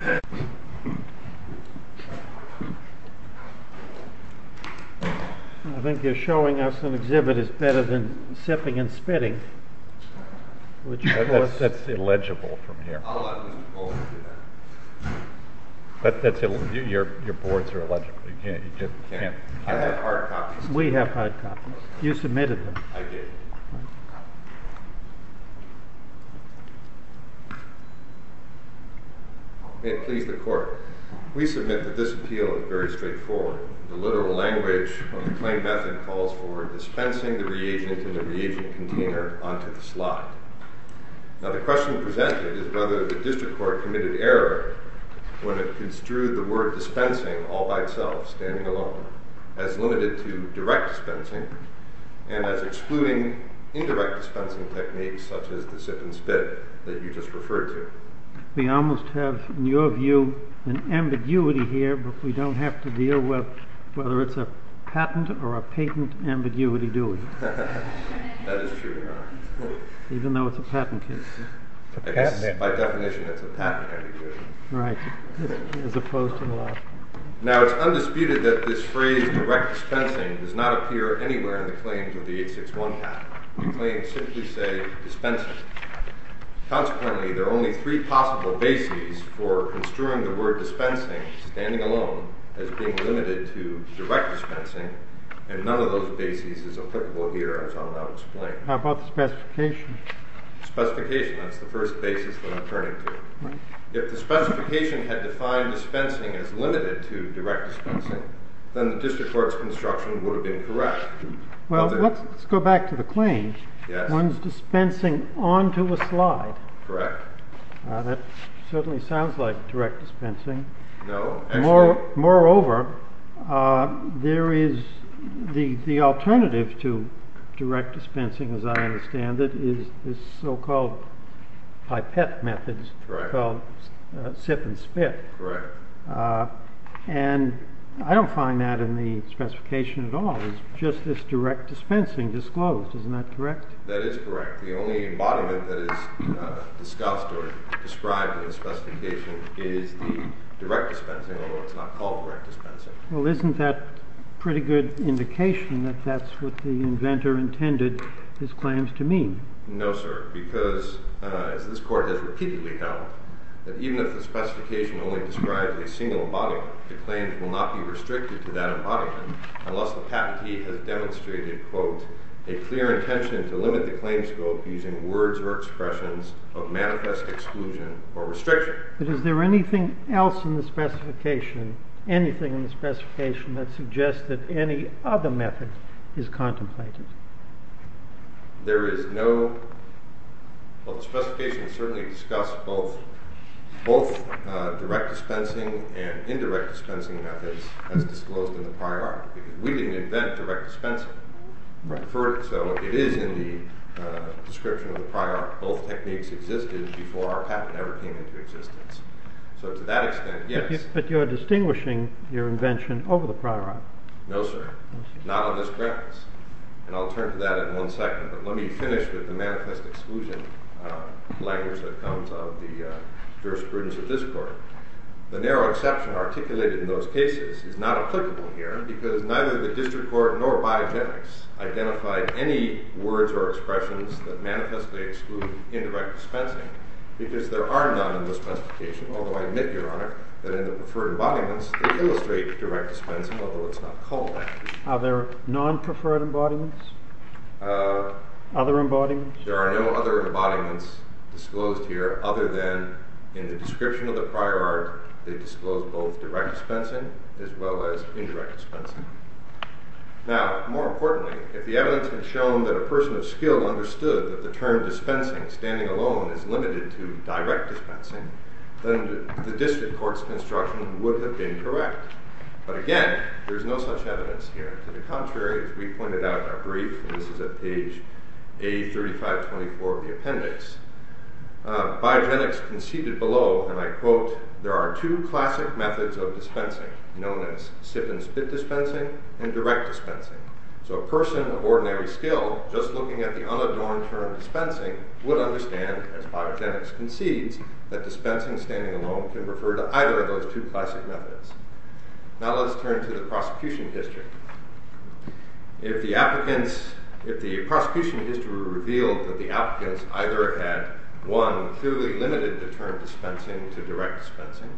I think you're showing us an exhibit that's better than sipping and spitting. That's illegible from here. Your boards are illegible. I have hard copies. We have hard copies. You submitted them. I did. May it please the court. We submit that this appeal is very straightforward. The literal language of the claim method calls for dispensing the reagent in the reagent container onto the slide. Now the question presented is whether the district court committed error when it construed the word dispensing all by itself, standing alone, as limited to direct dispensing, and as excluding indirect dispensing techniques such as the sip and spit that you just referred to. We almost have, in your view, an ambiguity here, but we don't have to deal with whether it's a patent or a patent ambiguity, do we? That is true, Your Honor. Even though it's a patent case. By definition, it's a patent ambiguity. Right, as opposed to the law. Now it's undisputed that this phrase direct dispensing does not appear anywhere in the claims of the 861 patent. The claims simply say dispensing. Consequently, there are only three possible bases for construing the word dispensing, standing alone, as being limited to direct dispensing, and none of those bases is applicable here, as I'll now explain. How about the specification? Specification, that's the first basis that I'm turning to. If the specification had defined dispensing as limited to direct dispensing, then the district court's construction would have been correct. Well, let's go back to the claims. Yes. One's dispensing onto a slide. Correct. That certainly sounds like direct dispensing. No. Moreover, there is the alternative to direct dispensing, as I understand it, is this so-called pipette method called sip and spit. Correct. And I don't find that in the specification at all. It's just this direct dispensing disclosed. Isn't that correct? That is correct. The only embodiment that is discussed or described in the specification is the direct dispensing, although it's not called direct dispensing. Well, isn't that a pretty good indication that that's what the inventor intended his claims to mean? No, sir, because as this Court has repeatedly held, that even if the specification only describes a single embodiment, the claims will not be restricted to that embodiment unless the patentee has demonstrated, quote, a clear intention to limit the claims scope using words or expressions of manifest exclusion or restriction. But is there anything else in the specification, anything in the specification that suggests that any other method is contemplated? There is no—well, the specification certainly discusses both direct dispensing and indirect dispensing methods as disclosed in the prior art. We didn't invent direct dispensing. Right. So it is in the description of the prior art. Both techniques existed before our patent ever came into existence. So to that extent, yes. But you're distinguishing your invention over the prior art. No, sir. Not on this premise. And I'll turn to that in one second, but let me finish with the manifest exclusion language that comes of the jurisprudence of this Court. The narrow exception articulated in those cases is not applicable here because neither the district court nor biogenics identified any words or expressions that manifestly exclude indirect dispensing because there are none in the specification, although I admit, Your Honor, that in the preferred embodiments they illustrate direct dispensing, although it's not called that. Are there non-preferred embodiments? Other embodiments? There are no other embodiments disclosed here other than in the description of the prior art they disclose both direct dispensing as well as indirect dispensing. Now, more importantly, if the evidence had shown that a person of skill understood that the term dispensing, standing alone, is limited to direct dispensing, then the district court's construction would have been correct. But again, there's no such evidence here. To the contrary, as we pointed out in our brief, and this is at page A3524 of the appendix, biogenics conceded below, and I quote, there are two classic methods of dispensing, known as sip-and-spit dispensing and direct dispensing. So a person of ordinary skill, just looking at the unadorned term dispensing, would understand, as biogenics concedes, that dispensing, standing alone, can refer to either of those two classic methods. Now let's turn to the prosecution history. If the prosecution history revealed that the applicants either had, one, clearly limited the term dispensing to direct dispensing,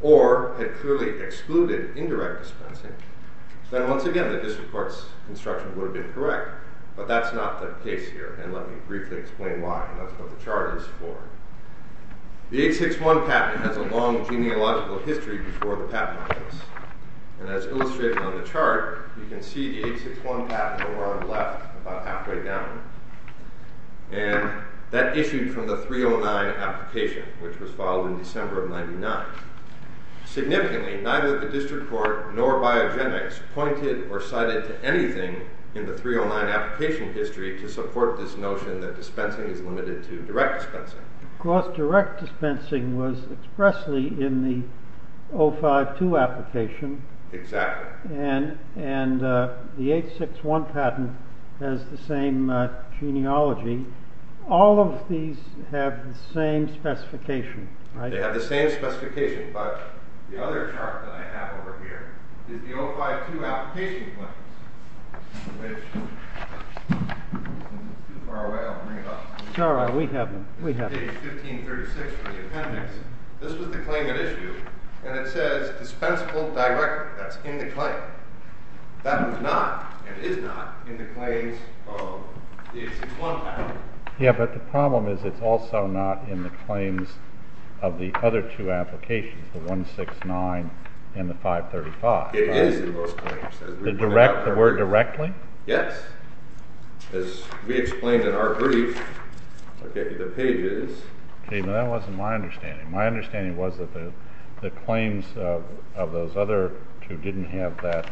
or had clearly excluded indirect dispensing, then once again the district court's construction would have been correct. But that's not the case here, and let me briefly explain why. That's what the chart is for. The 861 patent has a long genealogical history before the patent office, and as illustrated on the chart, you can see the 861 patent over on the left, about halfway down, and that issued from the 309 application, which was filed in December of 99. Significantly, neither the district court nor biogenics pointed or cited to anything in the 309 application history to support this notion that dispensing is limited to direct dispensing. Of course, direct dispensing was expressly in the 052 application, and the 861 patent has the same genealogy. All of these have the same specification. They have the same specification, but the other chart that I have over here is the 052 application claims, which, if it's too far away, I'll bring it up. It's page 1536 from the appendix. This was the claim at issue, and it says dispensable directly. That's in the claim. That was not, and is not, in the claims of the 861 patent. Yeah, but the problem is it's also not in the claims of the other two applications, the 169 and the 535. It is in both claims. The word directly? Yes. As we explained in our brief, look at the pages. Okay, but that wasn't my understanding. My understanding was that the claims of those other two didn't have that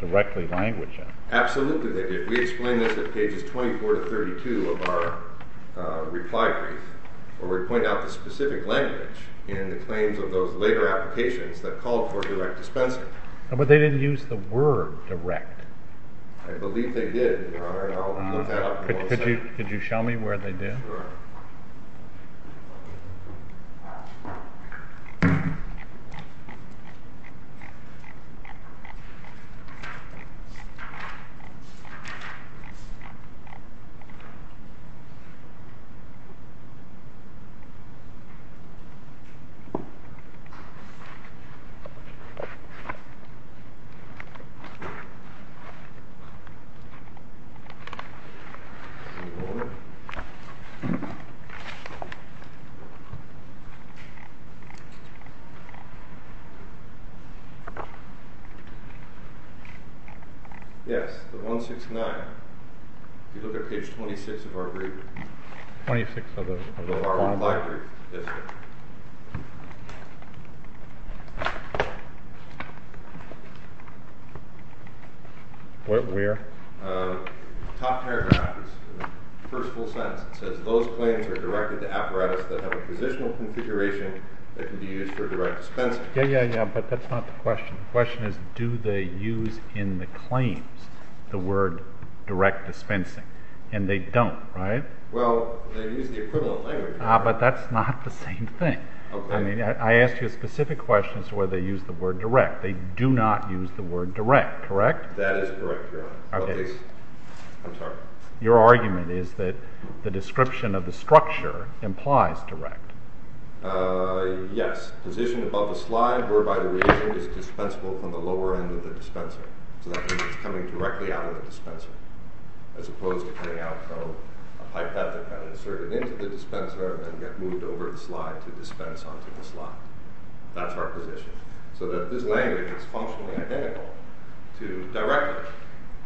directly language in them. Absolutely they did. We explained this at pages 24 to 32 of our reply brief, where we point out the specific language in the claims of those later applications that called for direct dispensing. But they didn't use the word direct. I believe they did, Your Honor, and I'll look that up. Could you show me where they did? Sure. Yes. Yes, the 169. If you look at page 26 of our brief. 26 of the reply brief? Yes. Where? Top paragraph. First full sentence. It says, those claims are directed to apparatus that have a positional configuration that can be used for direct dispensing. Yeah, yeah, yeah, but that's not the question. The question is, do they use in the claims the word direct dispensing? And they don't, right? Well, they use the equivalent language. Ah, but that's not the same thing. Okay. I mean, I asked you a specific question as to whether they use the word direct. They do not use the word direct, correct? That is correct, Your Honor. Okay. I'm sorry. Your argument is that the description of the structure implies direct. Yes. Position above the slide whereby the reagent is dispensable from the lower end of the dispenser. So that means it's coming directly out of the dispenser. As opposed to coming out from a pipette that got inserted into the dispenser and then got moved over the slide to dispense onto the slide. That's our position. So that this language is functionally identical to direct.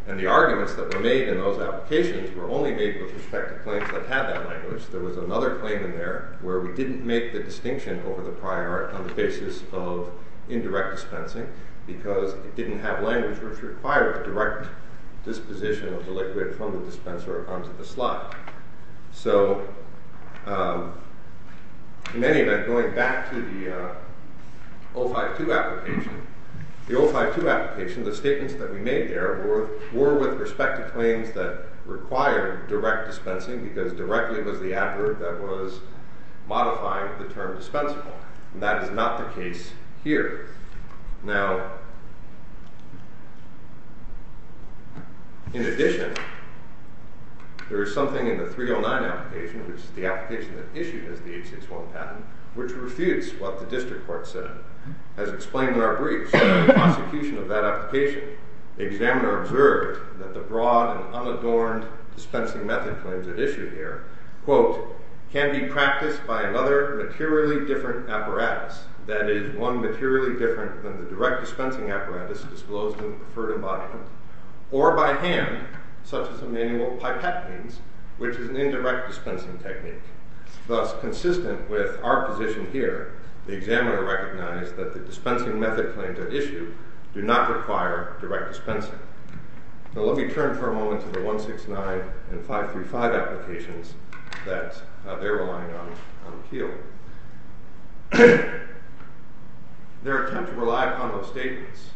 And the arguments that were made in those applications were only made with respect to claims that had that language. There was another claim in there where we didn't make the distinction over the prior on the basis of indirect dispensing because it didn't have language which required direct disposition of the liquid from the dispenser onto the slide. So in any event, going back to the 052 application, the 052 application, the statements that we made there were with respect to claims that required direct dispensing because directly was the adverb that was modifying the term dispensable. And that is not the case here. Now, in addition, there is something in the 309 application, which is the application that issued as the H-6-1 patent, which refutes what the district court said. As explained in our briefs, the prosecution of that application, the examiner observed that the broad and unadorned dispensing method claims that issue here, quote, can be practiced by another materially different apparatus, that is, one materially different than the direct dispensing apparatus disclosed in the preferred embodiment, or by hand, such as a manual pipette means, which is an indirect dispensing technique. Thus, consistent with our position here, the examiner recognized that the dispensing method claims that issue do not require direct dispensing. Now, let me turn for a moment to the 169 and 535 applications that they're relying on on appeal. Their attempt to rely upon those statements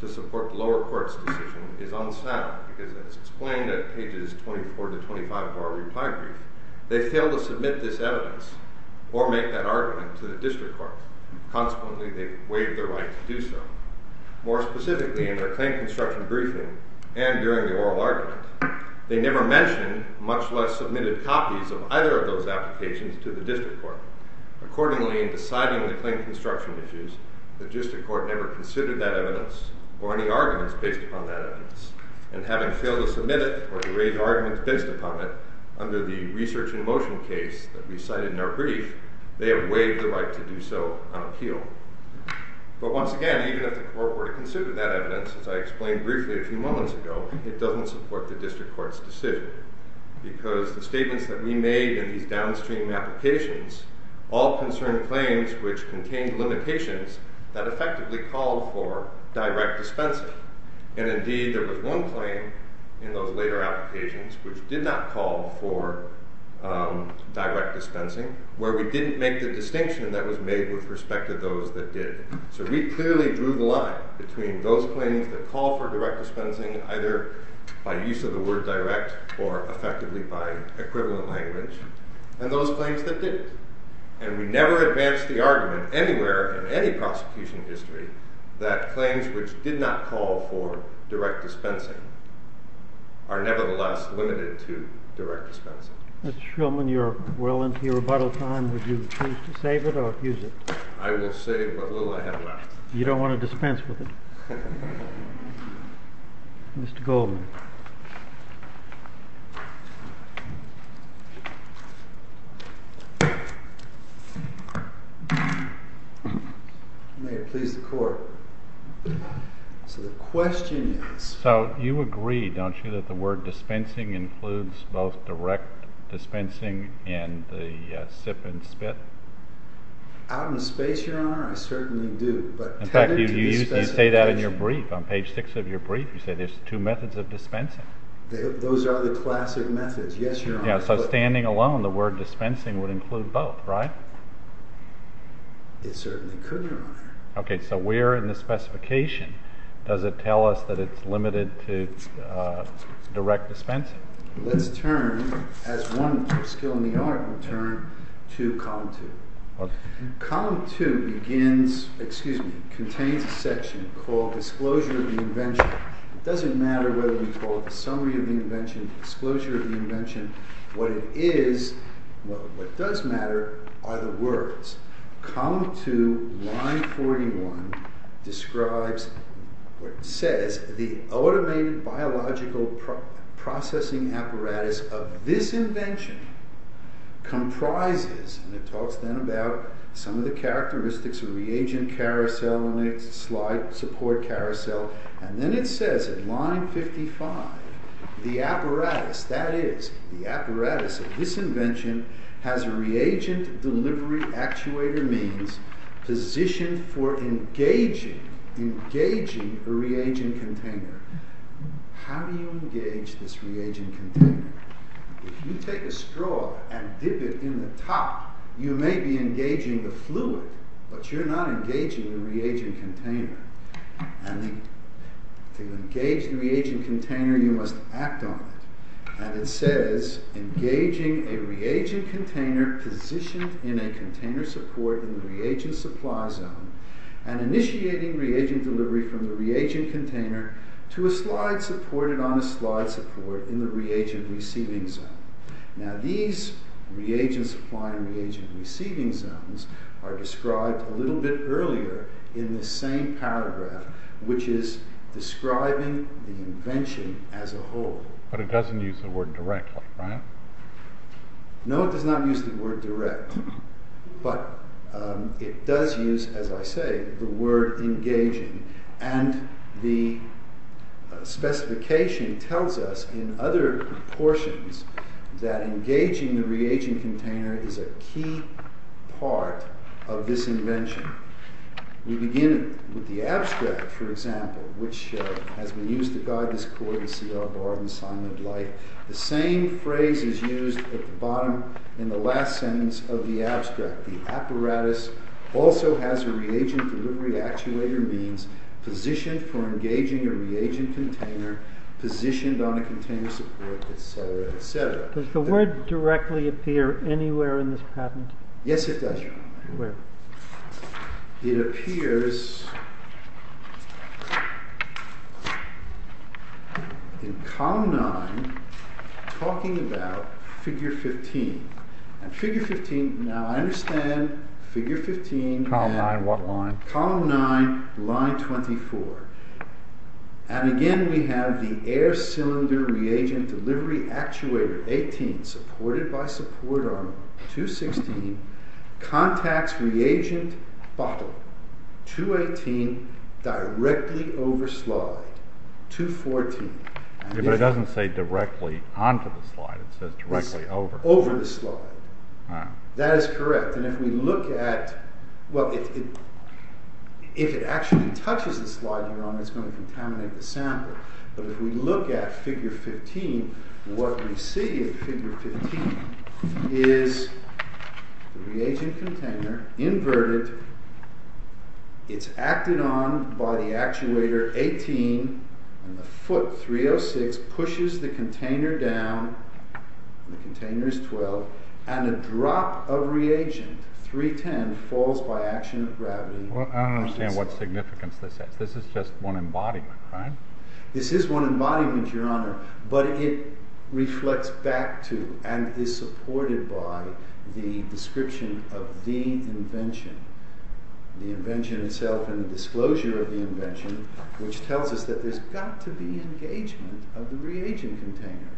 to support the lower court's decision is unsound, because as explained at pages 24 to 25 of our reply brief, they failed to submit this evidence or make that argument to the district court. Consequently, they waived their right to do so. More specifically, in their claim construction briefing and during the oral argument, they never mentioned, much less submitted copies of either of those applications to the district court. Accordingly, in deciding the claim construction issues, the district court never considered that evidence or any arguments based upon that evidence. And having failed to submit it or to raise arguments based upon it under the research in motion case that we cited in our brief, they have waived the right to do so on appeal. But once again, even if the court were to consider that evidence, as I explained briefly a few moments ago, it doesn't support the district court's decision, because the statements that we made in these downstream applications all concerned claims which contained limitations that effectively called for direct dispensing. And indeed, there was one claim in those later applications which did not call for direct dispensing, where we didn't make the distinction that was made with respect to those that did. So we clearly drew the line between those claims that call for direct dispensing, either by use of the word direct or effectively by equivalent language, and those claims that didn't. And we never advanced the argument anywhere in any prosecution history that claims which did not call for direct dispensing are nevertheless limited to direct dispensing. Mr. Shulman, you're well into your rebuttal time. Would you choose to save it or abuse it? I will save what little I have left. You don't want to dispense with it? Mr. Goldman. May it please the Court. So the question is... So you agree, don't you, that the word dispensing includes both direct dispensing and the sip and spit? Out in space, Your Honor, I certainly do. In fact, you say that in your brief. On page 6 of your brief, you say there's two methods of dispensing. Those are the classic methods. Yes, Your Honor. So standing alone, the word dispensing would include both, right? It certainly could, Your Honor. Okay, so where in the specification does it tell us that it's limited to direct dispensing? Let's turn, as one skill in the art will turn, to Column 2. Column 2 contains a section called Disclosure of the Invention. It doesn't matter whether you call it the Summary of the Invention, Disclosure of the Invention, what it is. What does matter are the words. Column 2, line 41, describes, or it says, the automated biological processing apparatus of this invention comprises, and it talks then about some of the characteristics of reagent carousel and its slide support carousel. And then it says at line 55, the apparatus, that is, the apparatus of this invention has a reagent delivery actuator means positioned for engaging, engaging a reagent container. How do you engage this reagent container? If you take a straw and dip it in the top, you may be engaging the fluid, but you're not engaging the reagent container. And to engage the reagent container, you must act on it. And it says, engaging a reagent container positioned in a container support in the reagent supply zone, and initiating reagent delivery from the reagent container to a slide supported on a slide support in the reagent receiving zone. Now these reagent supply and reagent receiving zones are described a little bit earlier in this same paragraph, which is describing the invention as a whole. But it doesn't use the word directly, right? No, it does not use the word direct. But it does use, as I say, the word engaging. And the specification tells us in other portions that engaging the reagent container is a key part of this invention. We begin with the abstract, for example, which has been used to guide this course. You see our bar of assignment light. The same phrase is used at the bottom in the last sentence of the abstract. The apparatus also has a reagent delivery actuator means positioned for engaging a reagent container, positioned on a container support, et cetera, et cetera. Does the word directly appear anywhere in this patent? Yes, it does. Where? It appears in column 9, talking about figure 15. And figure 15, now I understand figure 15. Column 9, what line? Column 9, line 24. And again we have the air cylinder reagent delivery actuator, 18, supported by support arm, 216, contacts reagent bottle, 218, directly over slide, 214. But it doesn't say directly onto the slide. It says directly over. Over the slide. That is correct. And if we look at, well, if it actually touches the slide you're on, it's going to contaminate the sample. But if we look at figure 15, what we see in figure 15 is the reagent container inverted. It's acted on by the actuator, 18, and the foot, 306, pushes the container down. The container is 12. And a drop of reagent, 310, falls by action of gravity. Well, I don't understand what significance this has. This is just one embodiment, right? This is one embodiment, Your Honor. But it reflects back to and is supported by the description of the invention, the invention itself and the disclosure of the invention, which tells us that there's got to be engagement of the reagent container.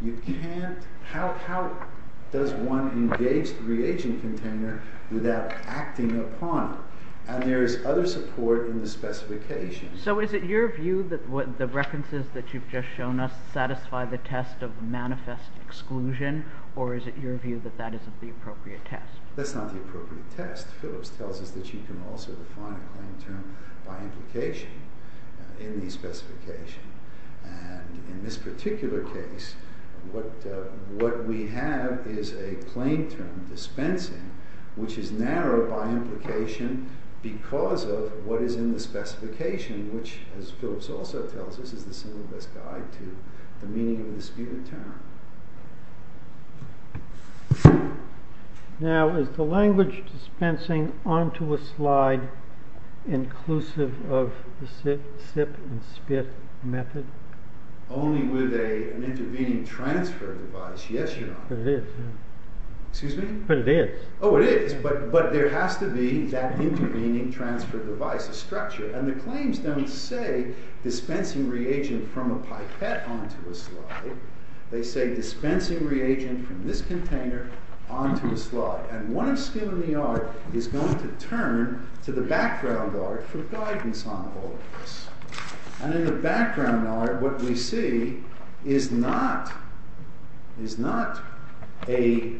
You can't, how does one engage the reagent container without acting upon it? And there is other support in the specification. So is it your view that the references that you've just shown us satisfy the test of manifest exclusion? Or is it your view that that isn't the appropriate test? That's not the appropriate test. Phillips tells us that you can also define a claim term by implication in the specification. And in this particular case, what we have is a claim term, dispensing, which is narrowed by implication because of what is in the specification, which, as Phillips also tells us, is the single best guide to the meaning of the spirit term. Now, is the language dispensing onto a slide inclusive of the sip and spit method? Only with an intervening transfer device. Yes, Your Honor. But it is. Excuse me? But it is. Oh, it is. But there has to be that intervening transfer device, a structure. And the claims don't say dispensing reagent from a pipette onto a slide. They say dispensing reagent from this container onto a slide. And one of skill in the art is going to turn to the background art for guidance on all of this. And in the background art, what we see is not a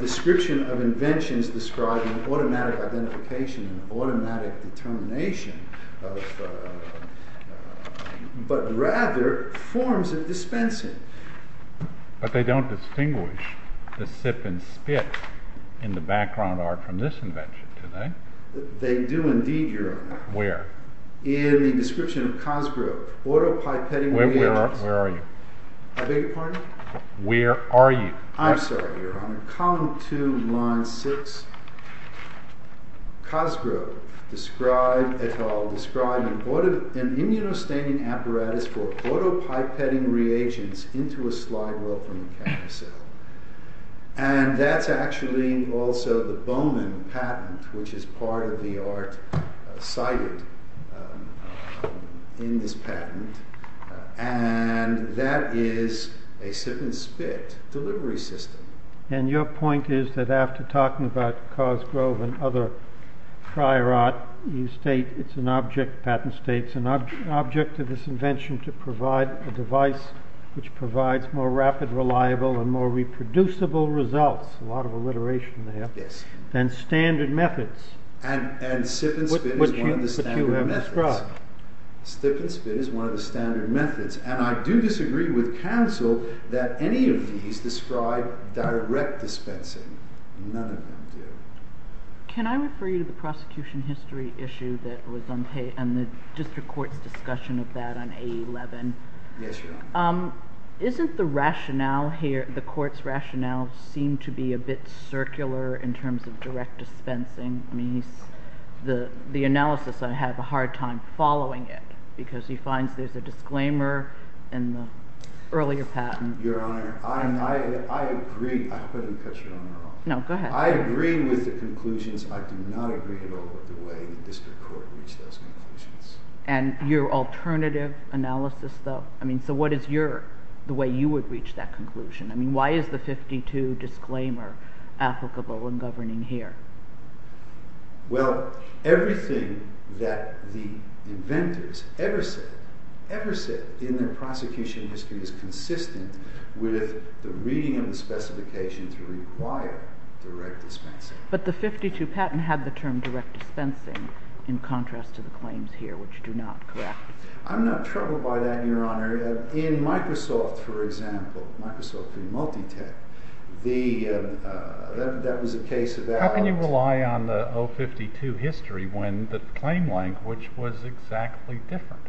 description of inventions describing automatic identification and automatic determination, but rather forms of dispensing. But they don't distinguish the sip and spit in the background art from this invention, do they? They do indeed, Your Honor. Where? In the description of Cosgrove, auto-pipetting reagents. Where are you? I beg your pardon? Where are you? I'm sorry, Your Honor. Column 2, line 6. Cosgrove, et al. Describing an immunostaining apparatus for auto-pipetting reagents into a slide well from a cancer cell. And that's actually also the Bowman patent, which is part of the art cited in this patent. And that is a sip and spit delivery system. And your point is that after talking about Cosgrove and other prior art, you state it's an object, patent states, an object of this invention to provide a device which provides more rapid, reliable, and more reproducible results, a lot of alliteration there, than standard methods. And sip and spit is one of the standard methods. Which you have described. Sip and spit is one of the standard methods. And I do disagree with counsel that any of these describe direct dispensing. None of them do. Can I refer you to the prosecution history issue that was on the district court's discussion of that on A11? Yes, Your Honor. Isn't the rationale here, the court's rationale, seem to be a bit circular in terms of direct dispensing? The analysis, I had a hard time following it because he finds there's a disclaimer in the earlier patent. Your Honor, I agree. I couldn't catch Your Honor wrong. No, go ahead. I agree with the conclusions. I do not agree at all with the way the district court reached those conclusions. And your alternative analysis, though? So what is your, the way you would reach that conclusion? I mean, why is the 52 disclaimer applicable and governing here? Well, everything that the inventors ever said, ever said in their prosecution history is consistent with the reading of the specification to require direct dispensing. But the 52 patent had the term direct dispensing in contrast to the claims here, which do not, correct? I'm not troubled by that, Your Honor. In Microsoft, for example, Microsoft being multi-tech, that was a case of that. How can you rely on the 052 history when the claim language was exactly different?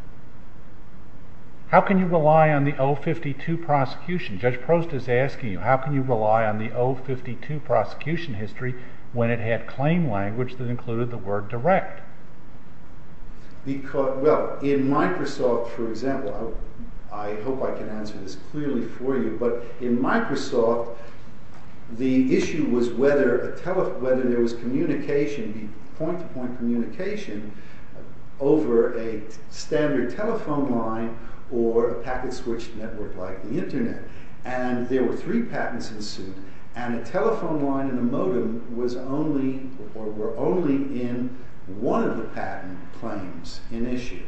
How can you rely on the 052 prosecution? Judge Prost is asking you, how can you rely on the 052 prosecution history when it had claim language that included the word direct? Well, in Microsoft, for example, I hope I can answer this clearly for you. But in Microsoft, the issue was whether there was communication, point-to-point communication over a standard telephone line or a packet-switched network like the Internet. And there were three patents ensued. And a telephone line and a modem were only in one of the patent claims in issue.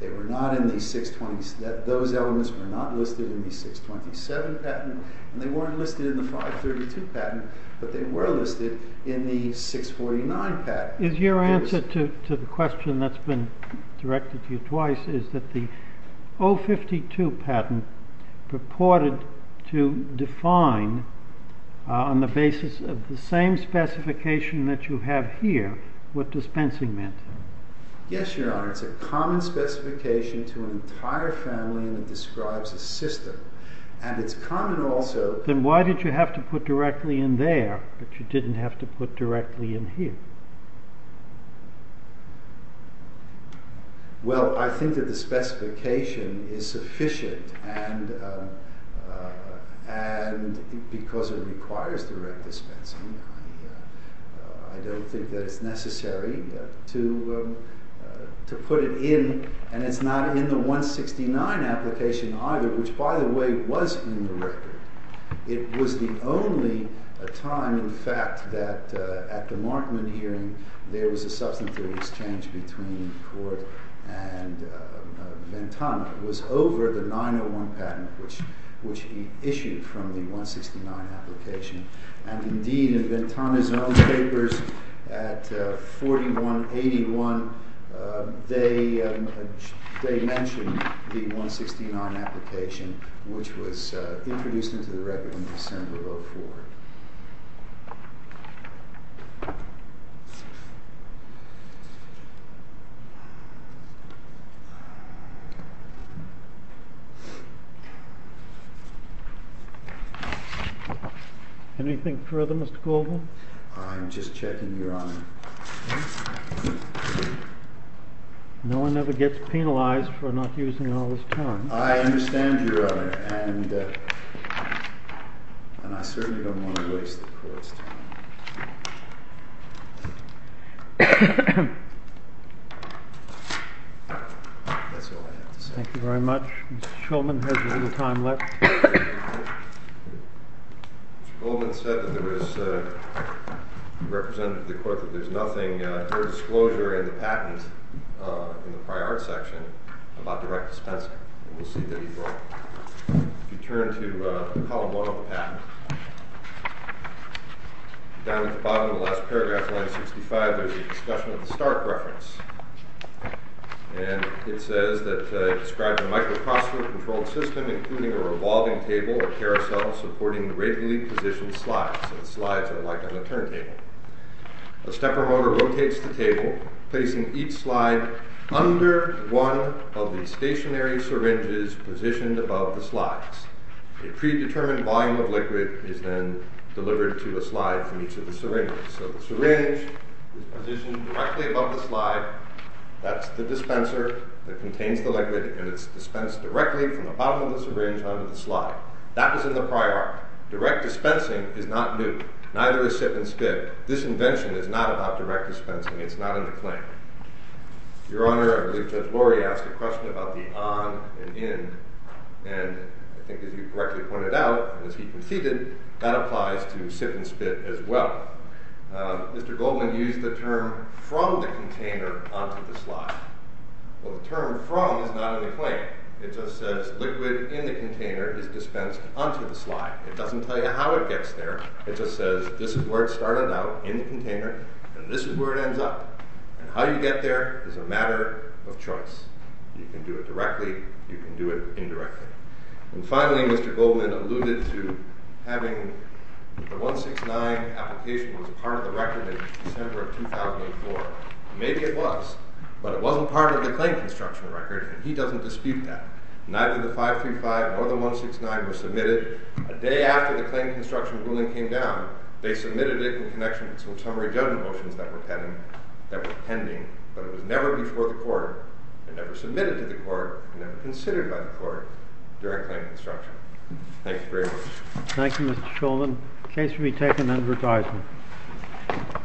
They were not in the 627. Those elements were not listed in the 627 patent. And they weren't listed in the 532 patent. But they were listed in the 649 patent. Is your answer to the question that's been directed to you twice is that the 052 patent purported to define, on the basis of the same specification that you have here, what dispensing meant? Yes, Your Honor. It's a common specification to an entire family that describes a system. Then why did you have to put directly in there, but you didn't have to put directly in here? Well, I think that the specification is sufficient because it requires direct dispensing. I don't think that it's necessary to put it in. And it's not in the 169 application either, which, by the way, was in the record. It was the only time, in fact, that at the Markman hearing, there was a substantive exchange between Court and Ventana. It was over the 901 patent, which he issued from the 169 application. And indeed, in Ventana's own papers at 4181, they mentioned the 169 application, which was introduced into the record in December of 04. Anything further, Mr. Goldman? I'm just checking, Your Honor. No one ever gets penalized for not using all this time. I understand, Your Honor. And I certainly don't want to waste the Court's time. That's all I have to say. Thank you very much. Mr. Shulman has a little time left. Mr. Goldman said that there was—he represented to the Court that there's nothing—no disclosure in the patent in the prior section about direct dispensing. And we'll see that he brought it. If you turn to column one of the patent, down at the bottom of the last paragraph, line 65, there's a discussion of the Stark reference. And it says that it describes a micro-crossword-controlled system, including a revolving table or carousel supporting the radially positioned slides. So the slides are like on a turntable. A stepper motor rotates the table, placing each slide under one of the stationary syringes positioned above the slides. A predetermined volume of liquid is then delivered to a slide from each of the syringes. So the syringe is positioned directly above the slide. That's the dispenser that contains the liquid. And it's dispensed directly from the bottom of the syringe onto the slide. That was in the prior art. Direct dispensing is not new. Neither is sit and spit. This invention is not about direct dispensing. It's not in the claim. Your Honor, I believe Judge Lori asked a question about the on and in. And I think, as you correctly pointed out, as he conceded, that applies to sit and spit as well. Mr. Goldman used the term from the container onto the slide. Well, the term from is not in the claim. It just says liquid in the container is dispensed onto the slide. It doesn't tell you how it gets there. It just says this is where it started out, in the container, and this is where it ends up. And how you get there is a matter of choice. You can do it directly. You can do it indirectly. And finally, Mr. Goldman alluded to having the 169 application was part of the record in December of 2004. Maybe it was. But it wasn't part of the claim construction record, and he doesn't dispute that. Neither the 535 nor the 169 were submitted. A day after the claim construction ruling came down, they submitted it in connection with some summary judgment motions that were pending. But it was never before the court and never submitted to the court and never considered by the court during claim construction. Thank you very much. Thank you, Mr. Goldman. The case will be taken under advisement.